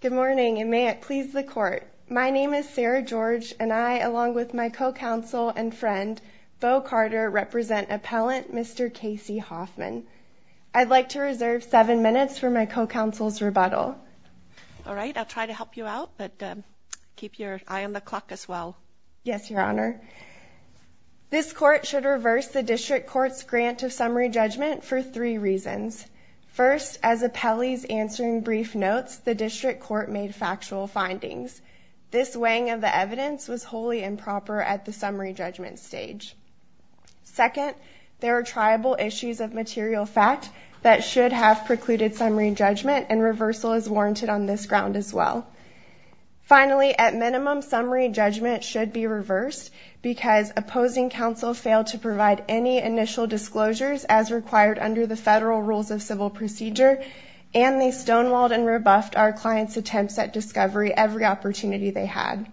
Good morning, and may it please the Court. My name is Sarah George, and I, along with my co-counsel and friend, Bo Carter, represent Appellant Mr. Kasey Hoffmann. I'd like to reserve seven minutes for my co-counsel's rebuttal. All right, I'll try to help you out, but keep your eye on the clock as well. Yes, Your Honor. This Court should reverse the District Court's grant of summary judgment for three reasons. First, as Appellee's answering brief notes, the District Court made factual findings. This weighing of the evidence was wholly improper at the summary judgment stage. Second, there are triable issues of material fact that should have precluded summary judgment, and reversal is warranted on this ground as well. Finally, at minimum, summary judgment should be reversed because opposing counsel failed to provide any initial disclosures as required under the federal rules of civil procedure, and they stonewalled and rebuffed our clients' attempts at discovery every opportunity they had.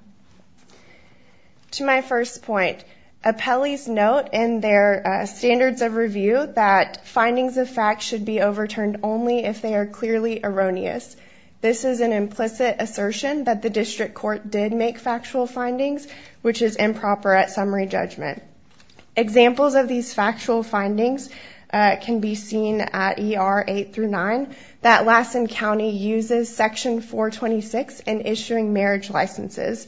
To my first point, Appellee's note in their statement is completely erroneous. This is an implicit assertion that the District Court did make factual findings, which is improper at summary judgment. Examples of these factual findings can be seen at ER 8-9, that Lassen County uses Section 426 in issuing marriage licenses.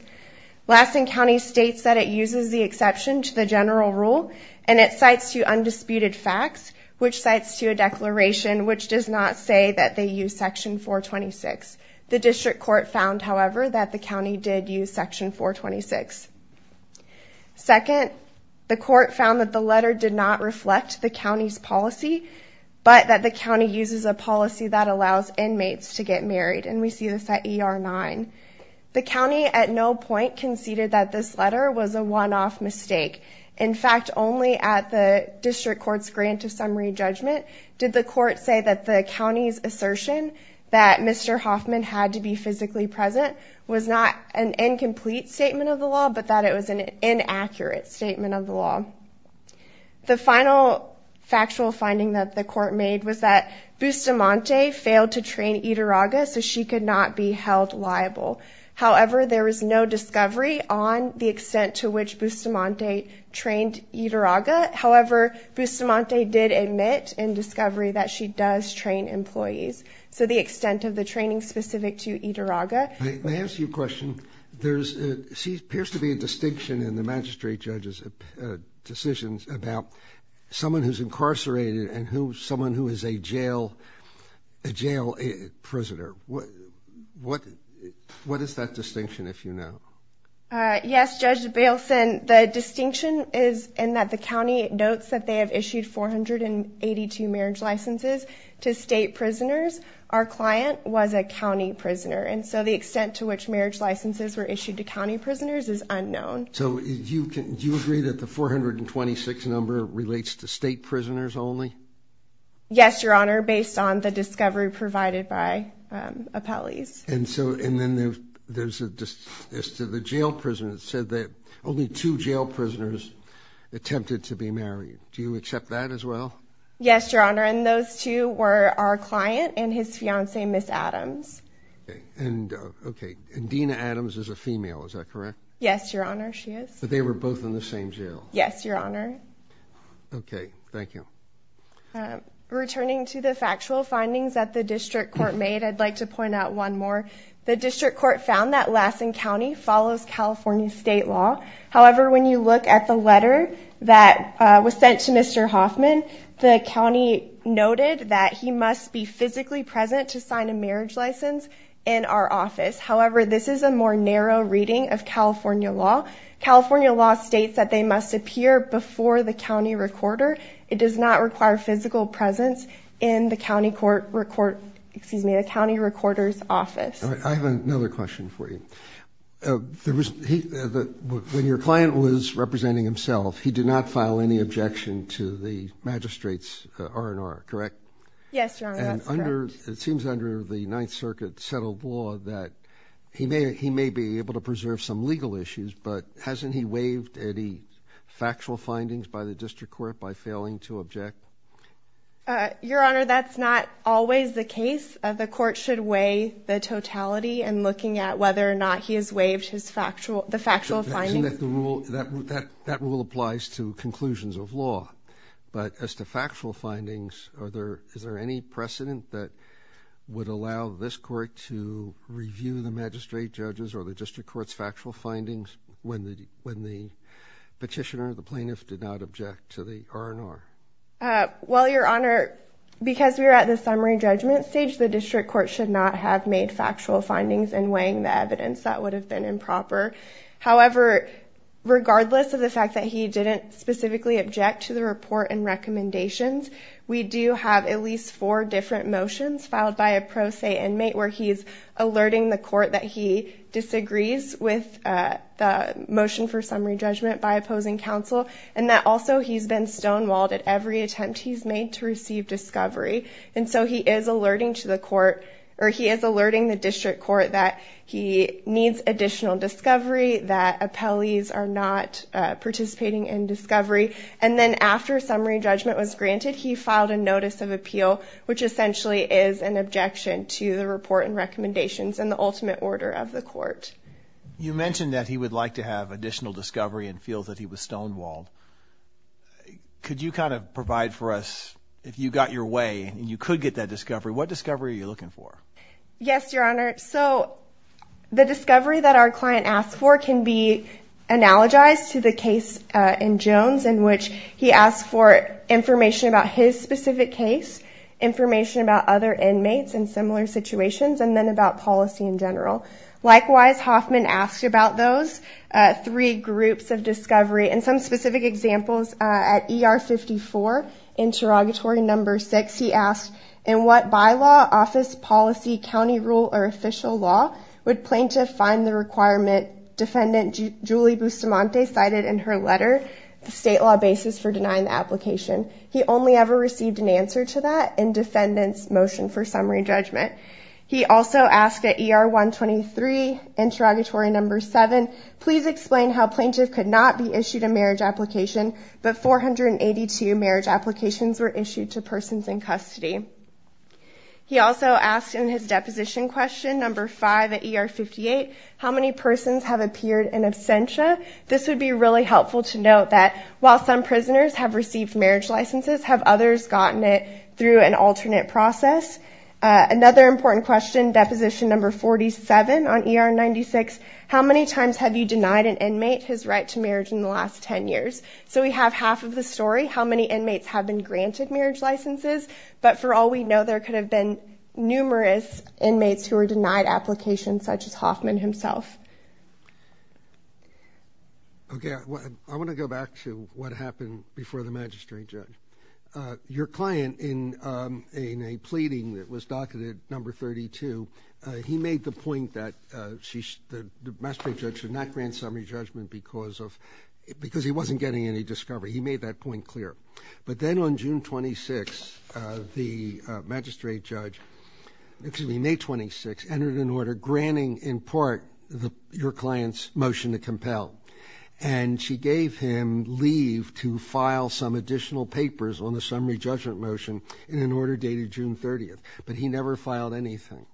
Lassen County states that it uses the exception to the general rule, and it cites to undisputed facts, which cites to a declaration which does not say that they use Section 426. The District Court found, however, that the county did use Section 426. Second, the court found that the letter did not reflect the county's policy, but that the county uses a policy that allows inmates to get married, and we see this at ER 9. The county at no point conceded that this letter was a one-off mistake. In fact, only at the District Court's grant of summary judgment did the court say that the county's assertion that Mr. Hoffman had to be physically present was not an incomplete statement of the law, but that it was an inaccurate statement of the law. The final factual finding that the court made was that Bustamante failed to train Idarraga, so she could not be held liable. However, there is no discovery on the extent to which Bustamante trained Idarraga. However, Bustamante did admit in discovery that she does train employees. So, the extent of the training specific to Idarraga... Let me ask you a question. There's... There appears to be a distinction in the magistrate judge's decisions about someone who's incarcerated and someone who is a jail prisoner. What is that distinction, if you know? Yes, Judge Bailson, the distinction is in that the county notes that they have issued 482 marriage licenses to state prisoners. Our client was a county prisoner, and so the extent to which marriage licenses were issued to county prisoners is And do you agree that the 426 number relates to state prisoners only? Yes, Your Honor, based on the discovery provided by appellees. And so, and then there's a... As to the jail prisoners, it said that only two jail prisoners attempted to be married. Do you accept that as well? Yes, Your Honor, and those two were our client and his fiancée, Ms. Adams. And okay, and Dina Adams is a female, is that correct? Yes, Your Honor, she is. But they were both in the same jail? Yes, Your Honor. Okay, thank you. Returning to the factual findings that the district court made, I'd like to point out one more. The district court found that Lassen County follows California state law. However, when you look at the letter that was sent to Mr. Hoffman, the county noted that he must be physically present to sign a marriage license in our office. However, this is a more narrow reading of California law. California law states that they must appear before the county recorder. It does not require physical presence in the county recorder's office. All right, I have another question for you. When your client was representing himself, he did not file any objection to the magistrate's R&R, correct? Yes, Your Honor, that's correct. And it seems under the Ninth Amendment, the court has not waived any factual findings by the district court by failing to object? Your Honor, that's not always the case. The court should weigh the totality in looking at whether or not he has waived the factual findings. That rule applies to conclusions of law. But as to factual findings, is there any precedent that would allow this when the petitioner, the plaintiff, did not object to the R&R? Well, Your Honor, because we are at the summary judgment stage, the district court should not have made factual findings in weighing the evidence. That would have been improper. However, regardless of the fact that he didn't specifically object to the report and recommendations, we do have at least four different motions filed by a pro se inmate where he's alerting the court that he disagrees with the motion for summary judgment by opposing counsel, and that also he's been stonewalled at every attempt he's made to receive discovery. And so he is alerting to the court, or he is alerting the district court that he needs additional discovery, that appellees are not participating in discovery. And then after summary judgment was granted, he filed a notice of appeal, which essentially is an objection to the report and recommendations and the ultimate order of the court. You mentioned that he would like to have additional discovery and feel that he was stonewalled. Could you kind of provide for us, if you got your way and you could get that discovery, what discovery are you looking for? Yes, Your Honor. So the discovery that our client asked for can be analogized to the case in Jones in which he asked for information about his specific case, information about other inmates in similar situations, and then about policy in general. Likewise, Hoffman asked about those three groups of discovery and some specific examples. At ER 54, interrogatory number six, he asked in what bylaw, office, policy, county rule, or official law would plaintiff find the requirement defendant Julie Bustamante cited in her letter, the state law basis for denying the application. He only ever received an answer to that in defendant's motion for summary judgment. He also asked at ER 123, interrogatory number seven, please explain how plaintiff could not be issued a marriage application, but 482 marriage applications were issued to persons in custody. He also asked in his deposition question, number five at ER 58, how many persons have appeared in absentia? This would be really helpful to note that while some prisoners have received marriage licenses, have others gotten it through an alternate process? Another important question, deposition number 47 on ER 96, how many times have you denied an inmate his right to marriage in the last 10 years? So we have half of the story, how many inmates have been granted marriage licenses? But for all we know, there could have been numerous inmates who were denied applications such as Hoffman himself. Okay, I want to go back to what happened before the magistrate judge. Your client in a pleading that was docketed number 32, he made the point that the magistrate judge should not grant summary judgment because he wasn't getting any discovery. He made that point clear. But then on June 26, the magistrate judge, excuse me, May 26, entered an order granting in part your client's motion to compel. And she gave him leave to file some additional papers on the summary judgment motion in an order dated June 30. But he never filed anything.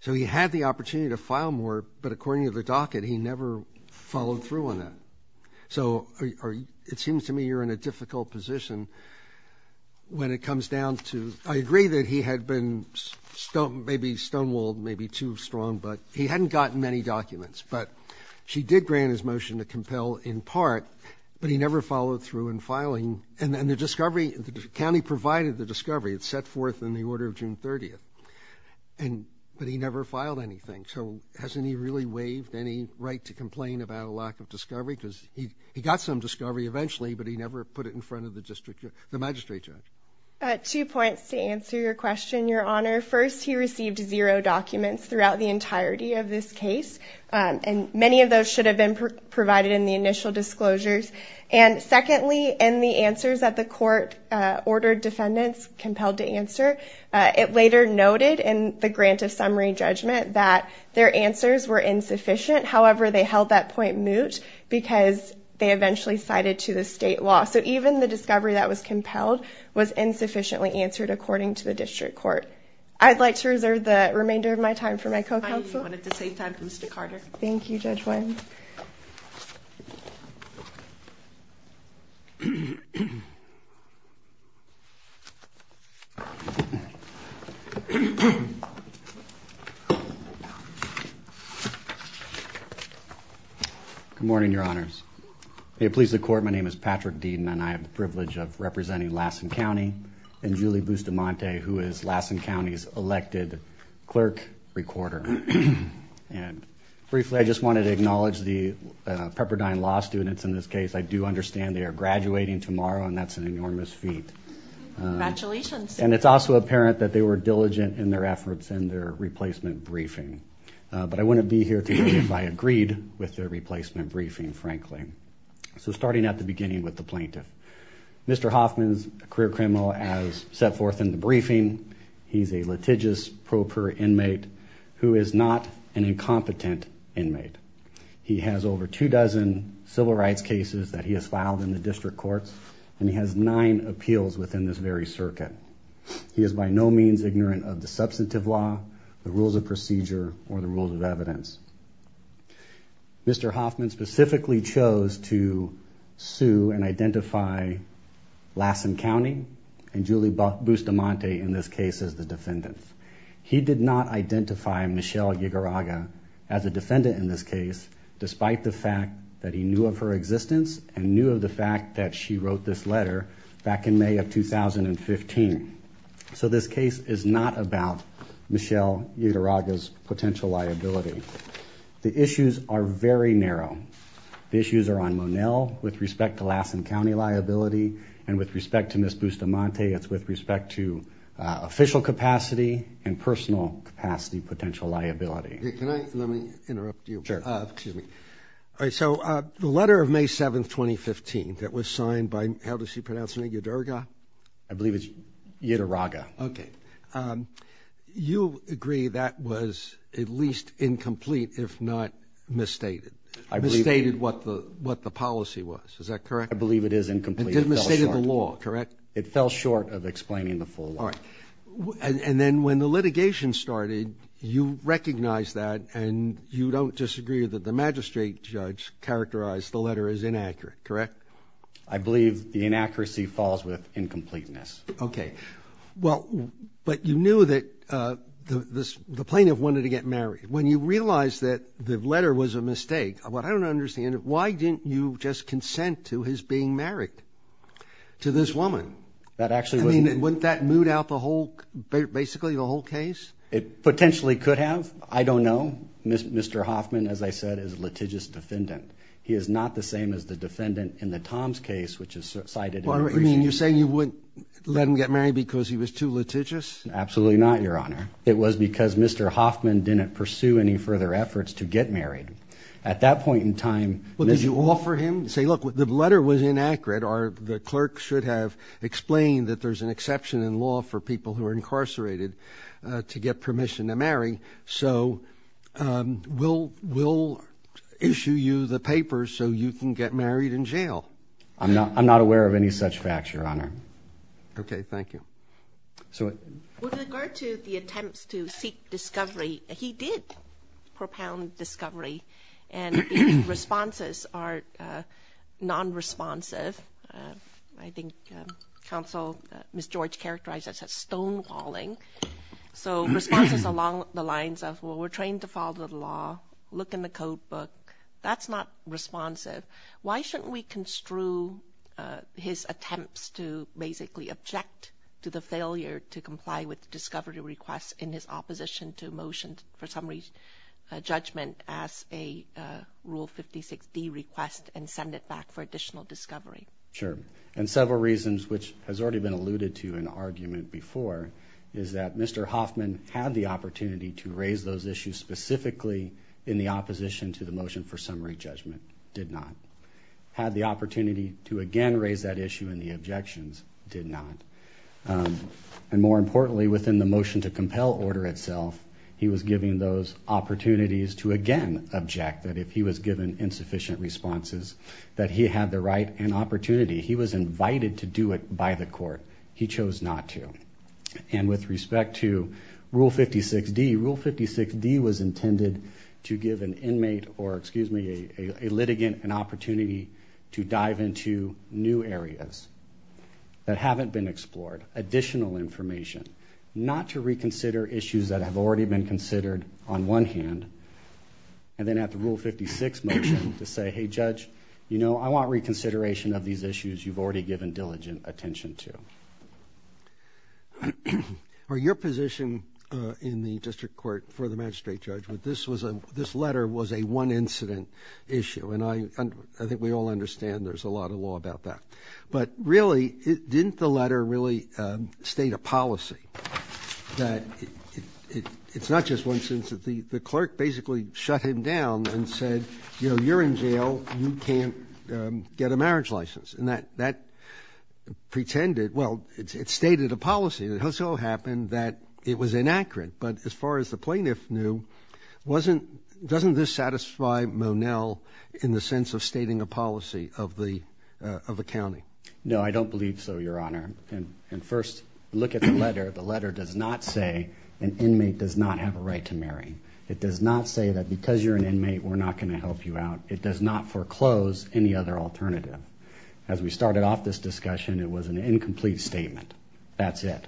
So he had the opportunity to file more, but according to the docket, he never followed through on that. So it seems to me you're in a difficult position when it comes down to ‑‑ I agree that he had been maybe stonewalled, maybe too strong, but he hadn't gotten many documents. But she did grant his motion to compel in part, but he never followed through in filing. And the discovery, the county provided the discovery. It's set forth in the order of June 30. But he never filed anything. So hasn't he really waived any right to complain about a lack of discovery? Because he got some discovery eventually, but he never put it in front of the magistrate judge. Two points to answer your question, Your Honor. First, he received zero documents throughout the entirety of this case. And many of those should have been provided in the initial disclosures. And secondly, in the answers that the court ordered defendants compelled to answer, it later noted in the grant of summary judgment that their answers were insufficient. However, they held that point moot because they eventually cited to the state law. So even the discovery that was compelled was insufficiently answered according to the district court. I'd like to reserve the remainder of my time for my co‑counsel. I wanted to save time for Mr. Carter. Thank you, Judge Wine. Good morning, Your Honors. May it please the court, my name is Patrick Deaton and I have the privilege of representing Lassen County and Julie Bustamante, who is Lassen County's elected clerk recorder. And briefly, I just wanted to acknowledge the Pepperdine Law students in this case. I do understand they are graduating tomorrow and that's an enormous feat. Congratulations. And it's also apparent that they were diligent in their efforts and their replacement briefing. But I wouldn't be here today if I agreed with their replacement briefing, frankly. So starting at the beginning with the plaintiff. Mr. Hoffman is a career criminal as set forth in the briefing. He's a litigious pro‑pro inmate who is not an incompetent inmate. He has over two dozen civil rights cases that he has filed in the district courts and he has nine appeals within this very circuit. He is by no means ignorant of the substantive law, the rules of procedure, or the rules of evidence. Mr. Hoffman specifically chose to sue and identify Lassen County and Julie Bustamante in this case as the defendants. He did not identify Michelle Ygarraga as a defendant in this case, despite the fact that he knew of her existence and knew of the fact that she wrote this letter back in May of 2015. So this case is not about Michelle Ygarraga's potential liability. The issues are very narrow. The issues are on Monell with respect to Lassen County liability and with respect to Ms. Bustamante. It's with respect to official capacity and personal capacity potential liability. Can I, let me interrupt you. Sure. Excuse me. All right. So the letter of May 7th, 2015 that was signed by, how does she pronounce her name, Ygarraga? I believe it's Ygarraga. Okay. You agree that was at least incomplete, if not misstated. Misstated what the, what the policy was. Is that correct? I believe it is incomplete. It misstated the law, correct? It fell short of explaining the full law. All right. And then when the litigation started, you recognized that and you don't disagree that the magistrate judge characterized the letter as inaccurate, correct? I believe the inaccuracy falls with incompleteness. Okay. Well, but you knew that the plaintiff wanted to get married. When you realized that the letter was a mistake, what I don't understand, why didn't you just consent to his being married to this woman? That actually wouldn't... I mean, wouldn't that moot out the whole, basically the whole case? It potentially could have. I don't know. Mr. Hoffman, as I said, is a litigious defendant. He is not the same as the defendant in the Tom's case, which is cited in the... You're saying you wouldn't let him get married because he was too litigious? Absolutely not, Your Honor. It was because Mr. Hoffman didn't pursue any further efforts to get married. At that point in time... Well, did you offer him, say, look, the letter was inaccurate or the clerk should have explained that there's an exception in law for people who are incarcerated to get permission to sign the papers so you can get married in jail? I'm not aware of any such facts, Your Honor. Okay. Thank you. So... With regard to the attempts to seek discovery, he did propound discovery, and the responses are non-responsive. I think counsel, Ms. George, characterized that as stonewalling. So responses along the lines of, well, we're trained to follow the law, look in the code book. That's not responsive. Why shouldn't we construe his attempts to basically object to the failure to comply with the discovery request in his opposition to motion for summary judgment as a Rule 56D request and send it back for additional discovery? Sure. And several reasons, which has already been alluded to in argument before, is that Mr. Hoffman had the opportunity to raise those issues specifically in the opposition to the summary judgment. Did not. Had the opportunity to again raise that issue in the objections. Did not. And more importantly, within the motion to compel order itself, he was giving those opportunities to again object that if he was given insufficient responses, that he had the right and opportunity. He was invited to do it by the court. He chose not to. And with respect to Rule 56D, Rule 56D was intended to give an inmate or, excuse me, a litigant an opportunity to dive into new areas that haven't been explored. Additional information. Not to reconsider issues that have already been considered on one hand. And then at the Rule 56 motion to say, hey judge, you know, I want reconsideration of these issues you've already given diligent attention to. Your position in the district court for the magistrate judge, this letter was a one incident issue. And I think we all understand there's a lot of law about that. But really, didn't the letter really state a policy that it's not just one instance. The clerk basically shut him down and said, you know, you're in jail, you can't get a marriage license. And that pretended, well, it stated a policy. It also happened that it was inaccurate. But as far as the plaintiff knew, wasn't, doesn't this satisfy Monell in the sense of stating a policy of the, of the county? No, I don't believe so, your honor. And first, look at the letter. The letter does not say an inmate does not have a right to marry. It does not say that because you're an inmate, we're not going to help you out. It does not foreclose any other alternative. As we started off this discussion, it was an incomplete statement. That's it.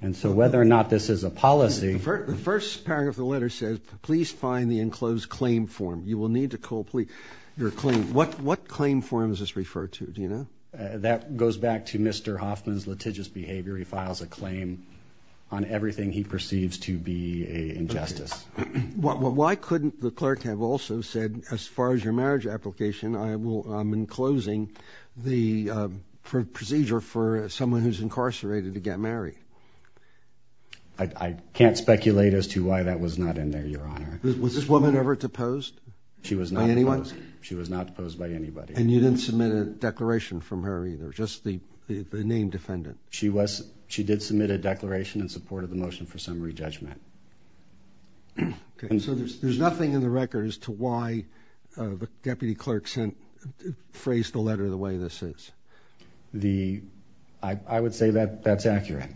And so whether or not this is a policy. The first paragraph of the letter says, please find the enclosed claim form. You will need to call police. Your claim, what, what claim forms is referred to? Do you know? That goes back to Mr. Hoffman's litigious behavior. He files a claim on everything he perceives to be a injustice. Why couldn't the clerk have also said, as far as your marriage application, I will, I'm enclosing the procedure for someone who's incarcerated to get married. I can't speculate as to why that was not in there, your honor. Was this woman ever deposed? She was not deposed. She was not deposed by anybody. And you didn't submit a declaration from her either, just the, the name defendant. She was, she did submit a declaration in support of the motion for summary judgment. Okay. So there's, there's nothing in the record as to why the deputy clerk sent, phrased the letter the way this is. The, I would say that that's accurate.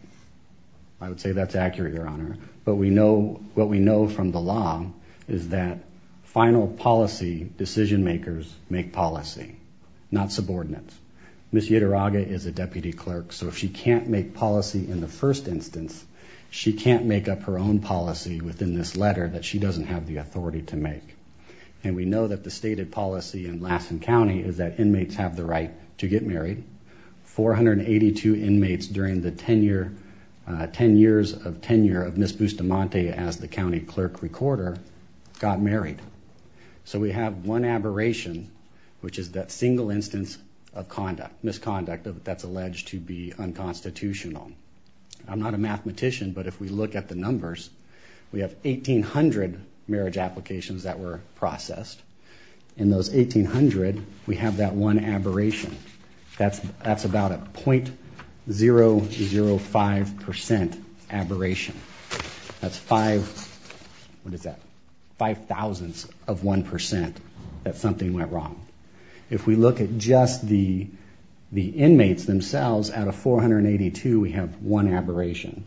I would say that's accurate, your honor. But we know what we know from the law is that final policy decision makers make policy, not subordinates. Ms. Yadiraga is a deputy clerk. So if she can't make policy in the first instance, she can't make up her own policy within this letter that she doesn't have the authority to make. And we know that the stated policy in Lassen County is that inmates have the right to get married. 482 inmates during the 10 year, 10 years of tenure of Ms. DeMonte as the county clerk recorder got married. So we have one aberration, which is that single instance of conduct, misconduct that's alleged to be unconstitutional. I'm not a mathematician, but if we look at the numbers, we have 1800 marriage applications that were processed in those 1800. We have that one aberration. That's, that's about a 0.005% aberration. That's five, what is that? 0.005% of 1% that something went wrong. If we look at just the, the inmates themselves out of 482, we have one aberration,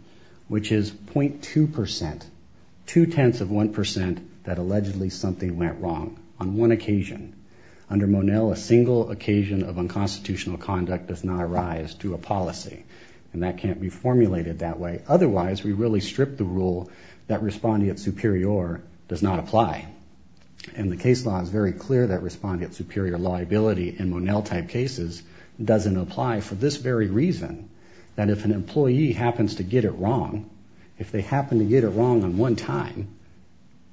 which is 0.2%, two tenths of 1% that allegedly something went wrong on one occasion. Under Monell, a single occasion of unconstitutional conduct does not arise to a policy and that can't be formulated that way. Otherwise we really strip the rule that responding at superior does not apply. And the case law is very clear that responding at superior liability in Monell type cases doesn't apply for this very reason that if an employee happens to get it wrong, if they happen to get it wrong on one time,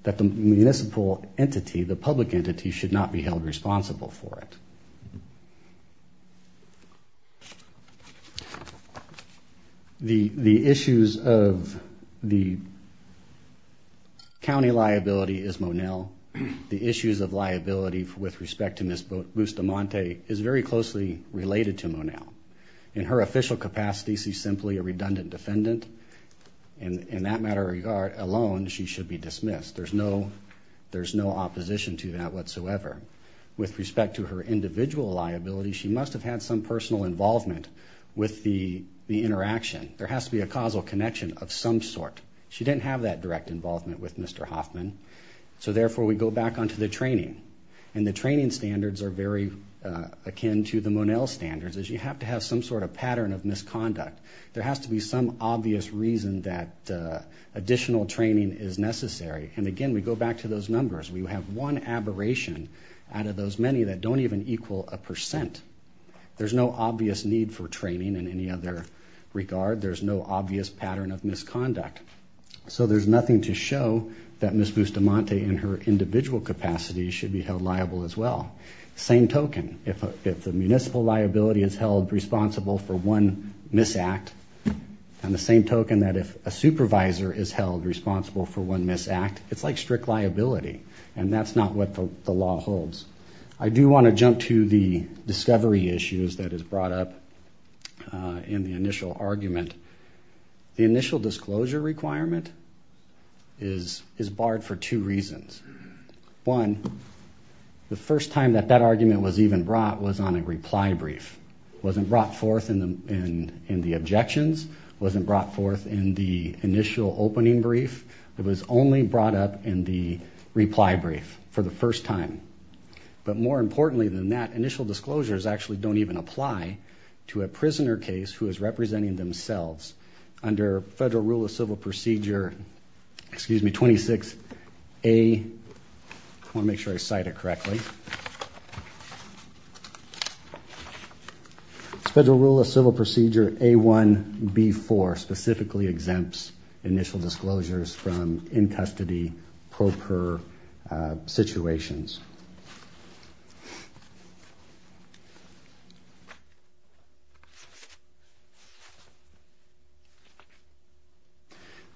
that the municipal entity, the public entity should not be held responsible for it. The, the issues of the county liability is Monell. The issues of liability with respect to Ms. Bustamante is very closely related to Monell. In her official capacity, she's simply a redundant defendant. And in that matter of regard alone, she should be dismissed. There's no, there's no opposition to that whatsoever. With respect to her individual liability, she must have had some personal involvement with the interaction. There has to be a causal connection of some sort. She didn't have that direct involvement with Mr. Hoffman. So therefore we go back onto the training and the training standards are very akin to the Monell standards as you have to have some sort of pattern of misconduct. There has to be some obvious reason that additional training is necessary. And again, we go back to those numbers. We have one aberration out of those many that don't even equal a percent. There's no obvious need for training in any other regard. There's no obvious pattern of misconduct. So there's nothing to show that Ms. Bustamante in her individual capacity should be held liable as well. Same token. If the municipal liability is held responsible for one misact and the same misconduct, it's like strict liability and that's not what the law holds. I do want to jump to the discovery issues that is brought up in the initial argument. The initial disclosure requirement is barred for two reasons. One, the first time that that argument was even brought was on a reply brief. Wasn't brought forth in the objections. Wasn't brought forth in the initial opening brief. It was only brought up in the reply brief for the first time. But more importantly than that, initial disclosures actually don't even apply to a prisoner case who is representing themselves under federal rule of civil procedure, excuse me, 26A, I want to make sure I cite it correctly. Federal rule of civil procedure A1B4 specifically exempts initial disclosures from in custody pro per situations.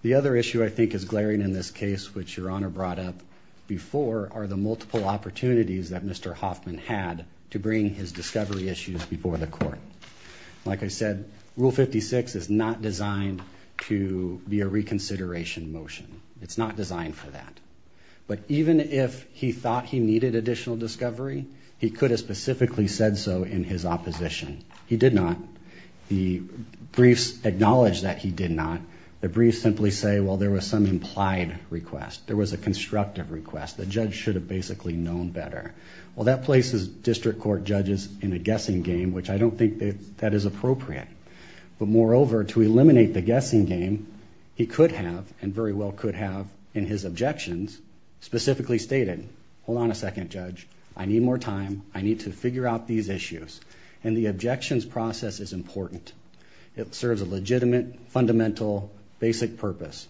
The other issue I think is glaring in this case, which your honor brought up before are the multiple opportunities that Mr. Hoffman had to bring his discovery issues before the court. Like I said, rule 56 is not designed to be a reconsideration motion. It's not designed for that. But even if he thought he needed additional discovery, he could have specifically said so in his opposition. He did not. The briefs acknowledge that he did not. The briefs simply say, well there was some implied request. There was a constructive request. The judge should have basically known better. Well that places district court judges in a guessing game, which I don't think that that is appropriate. But moreover, to eliminate the guessing game he could have and very well could have in his objections, specifically stated, hold on a second judge, I need more time. I need to figure out these issues. And the objections process is important. It serves a legitimate fundamental basic purpose.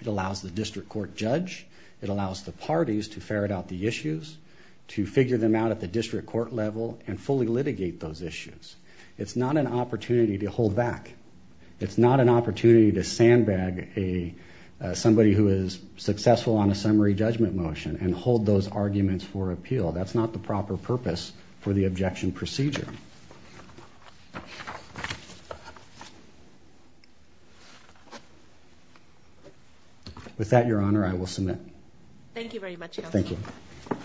It allows the district court judge, it allows the parties to ferret out the issues, to figure them out at the district court level and fully litigate those issues. It's not an opportunity to hold back. It's not an opportunity to sandbag somebody who is successful on a summary judgment motion and hold those arguments for appeal. That's not the proper purpose for the objection procedure. With that, your honor, I will submit. Thank you very much. Thank you. Okay.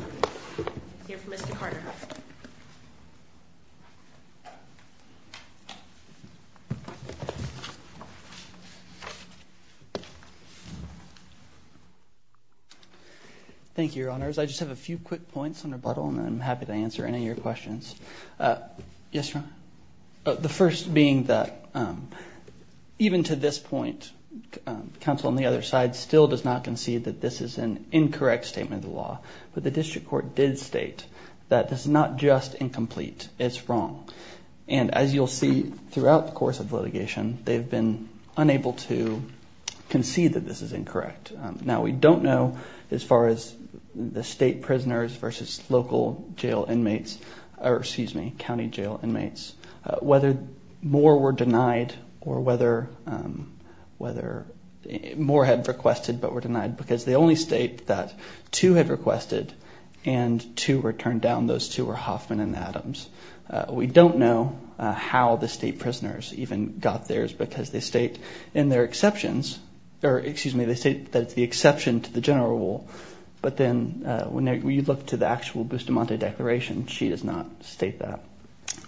Thank you, your honors. I just have a few quick points on rebuttal and I'm happy to answer any of your questions. Uh, yes. Oh, the first being that, um, even to this point, counsel on the other side still does not concede that this is an incorrect statement of the law, but the district court did state that this is not just incomplete. It's wrong. And as you'll see throughout the course of litigation, they've been unable to concede that this is incorrect. Now we don't know as far as the state prisoners versus local jail inmates, or excuse me, county jail inmates, whether more were denied or whether, um, whether more had requested but were denied because the only state that two had requested and two were turned down, those two were Hoffman and Adams. We don't know how the state prisoners even got theirs because they state in their exceptions or excuse me, they state that it's the exception to the general rule. But then when we look to the actual Bustamante declaration, she does not state that.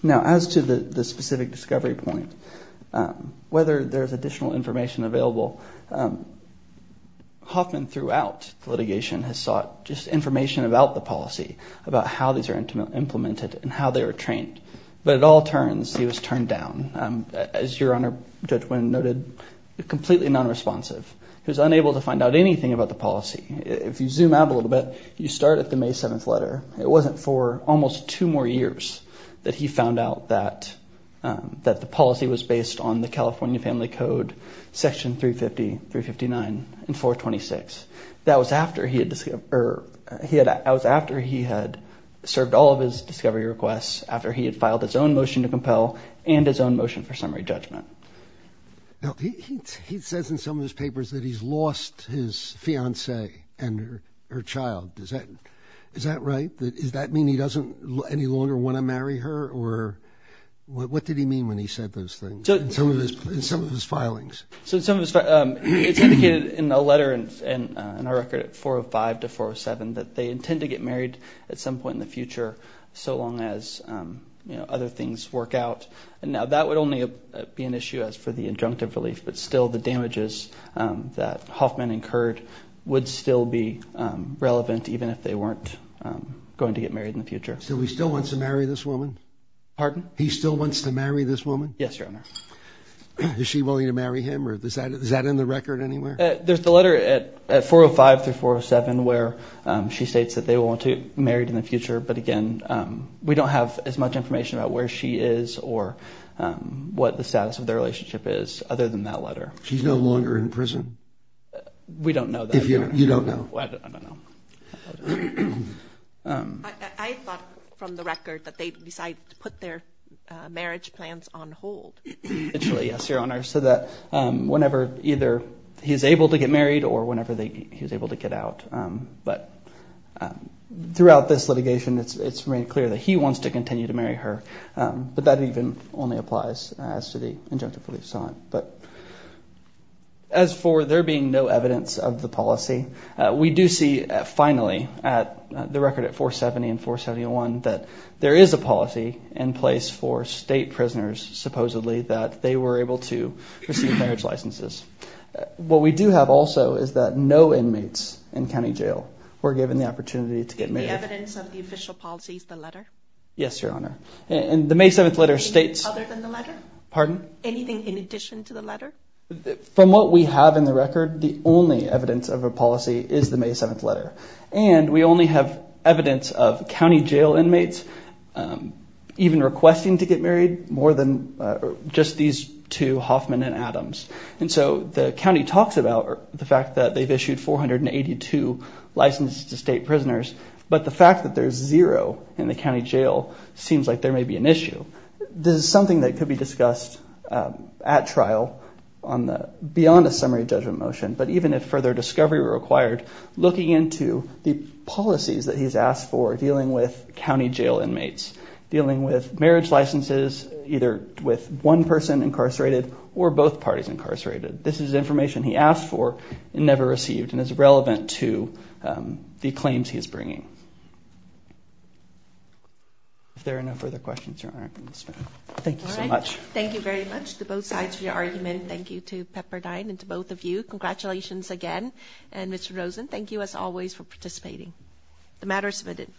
Now as to the specific discovery point, um, whether there's additional information available, um, Hoffman throughout litigation has sought just information about the policy, about how these are implemented and how they were trained. But it all turns, he was turned down. Um, as your Honor, Judge Winn noted, completely non-responsive. He was unable to find out anything about the policy. If you zoom out a little bit, you start at the May 7th letter. It wasn't for almost two more years that he found out that, um, that the policy was based on the California Family Code, section 350, 359 and 426. That was after he had, or he had, that was after he had served all of his discovery requests, after he had filed his own motion to compel and his own motion for summary judgment. Now he says in some of his papers that he's lost his fiance and her, her child. Does that, is that right? That is, that mean he doesn't any longer want to marry her or what did he mean when he said those things in some of his, in some of his filings? So some of his, um, it's indicated in a letter and in our record at 405 to 407, that they intend to get married at some point in the future. So long as, um, you know, other things work out. And now that would only be an issue as for the injunctive relief, but still the damages, um, that Hoffman incurred would still be, um, relevant even if they weren't, um, going to get married in the future. So he still wants to marry this woman? Pardon? He still wants to marry this woman? Yes, Your Honor. Is she willing to marry him or is that, is that in the record anywhere? There's the letter at 405 through 407 where, um, she states that they will want to get married in the future. But again, um, we don't have as much information about where she is or, um, what the status of their relationship is other than that letter. She's no longer in prison? We don't know that. You don't know? I don't know. Um, I thought from the record that they decided to put their, uh, marriage plans on hold. Actually, yes, Your Honor. So that, um, whenever either he's able to get married or whenever they, he was able to get out. Um, but, um, throughout this litigation, it's, it's made clear that he wants to continue to marry her. Um, but that even only applies as to the injunctive relief sign. But as for there being no evidence of the policy, uh, we do see finally at the record at 470 and 471 that there is a policy in place for state prisoners, supposedly that they were able to receive marriage licenses. What we do have also is that no inmates in County jail were given the opportunity to get married. Evidence of the official policies, the letter. Yes, Your Honor. And the May 7th letter states other than the letter, pardon? Anything in addition to the letter from what we have in the record, the only evidence of a policy is the May 7th letter. And we only have evidence of County jail inmates, um, even requesting to get married more than, uh, just these two Hoffman and Adams. And so the County talks about the fact that they've issued 482 licenses to state prisoners, but the fact that there's zero in the County jail seems like there may be an issue. This is something that could be discussed, um, at trial on the beyond a summary judgment motion, but even if further discovery required looking into the policies that he's asked for dealing with County jail inmates, dealing with marriage licenses, either with one person incarcerated or both parties incarcerated. This is information he asked for and never received and is relevant to, um, the claims he is bringing. If there are no further questions, thank you so much. Thank you very much to both sides of your argument. Thank you to Pepperdine and to both of you. Congratulations again. And Mr. Rosen, thank you as always for participating. The matter is submitted.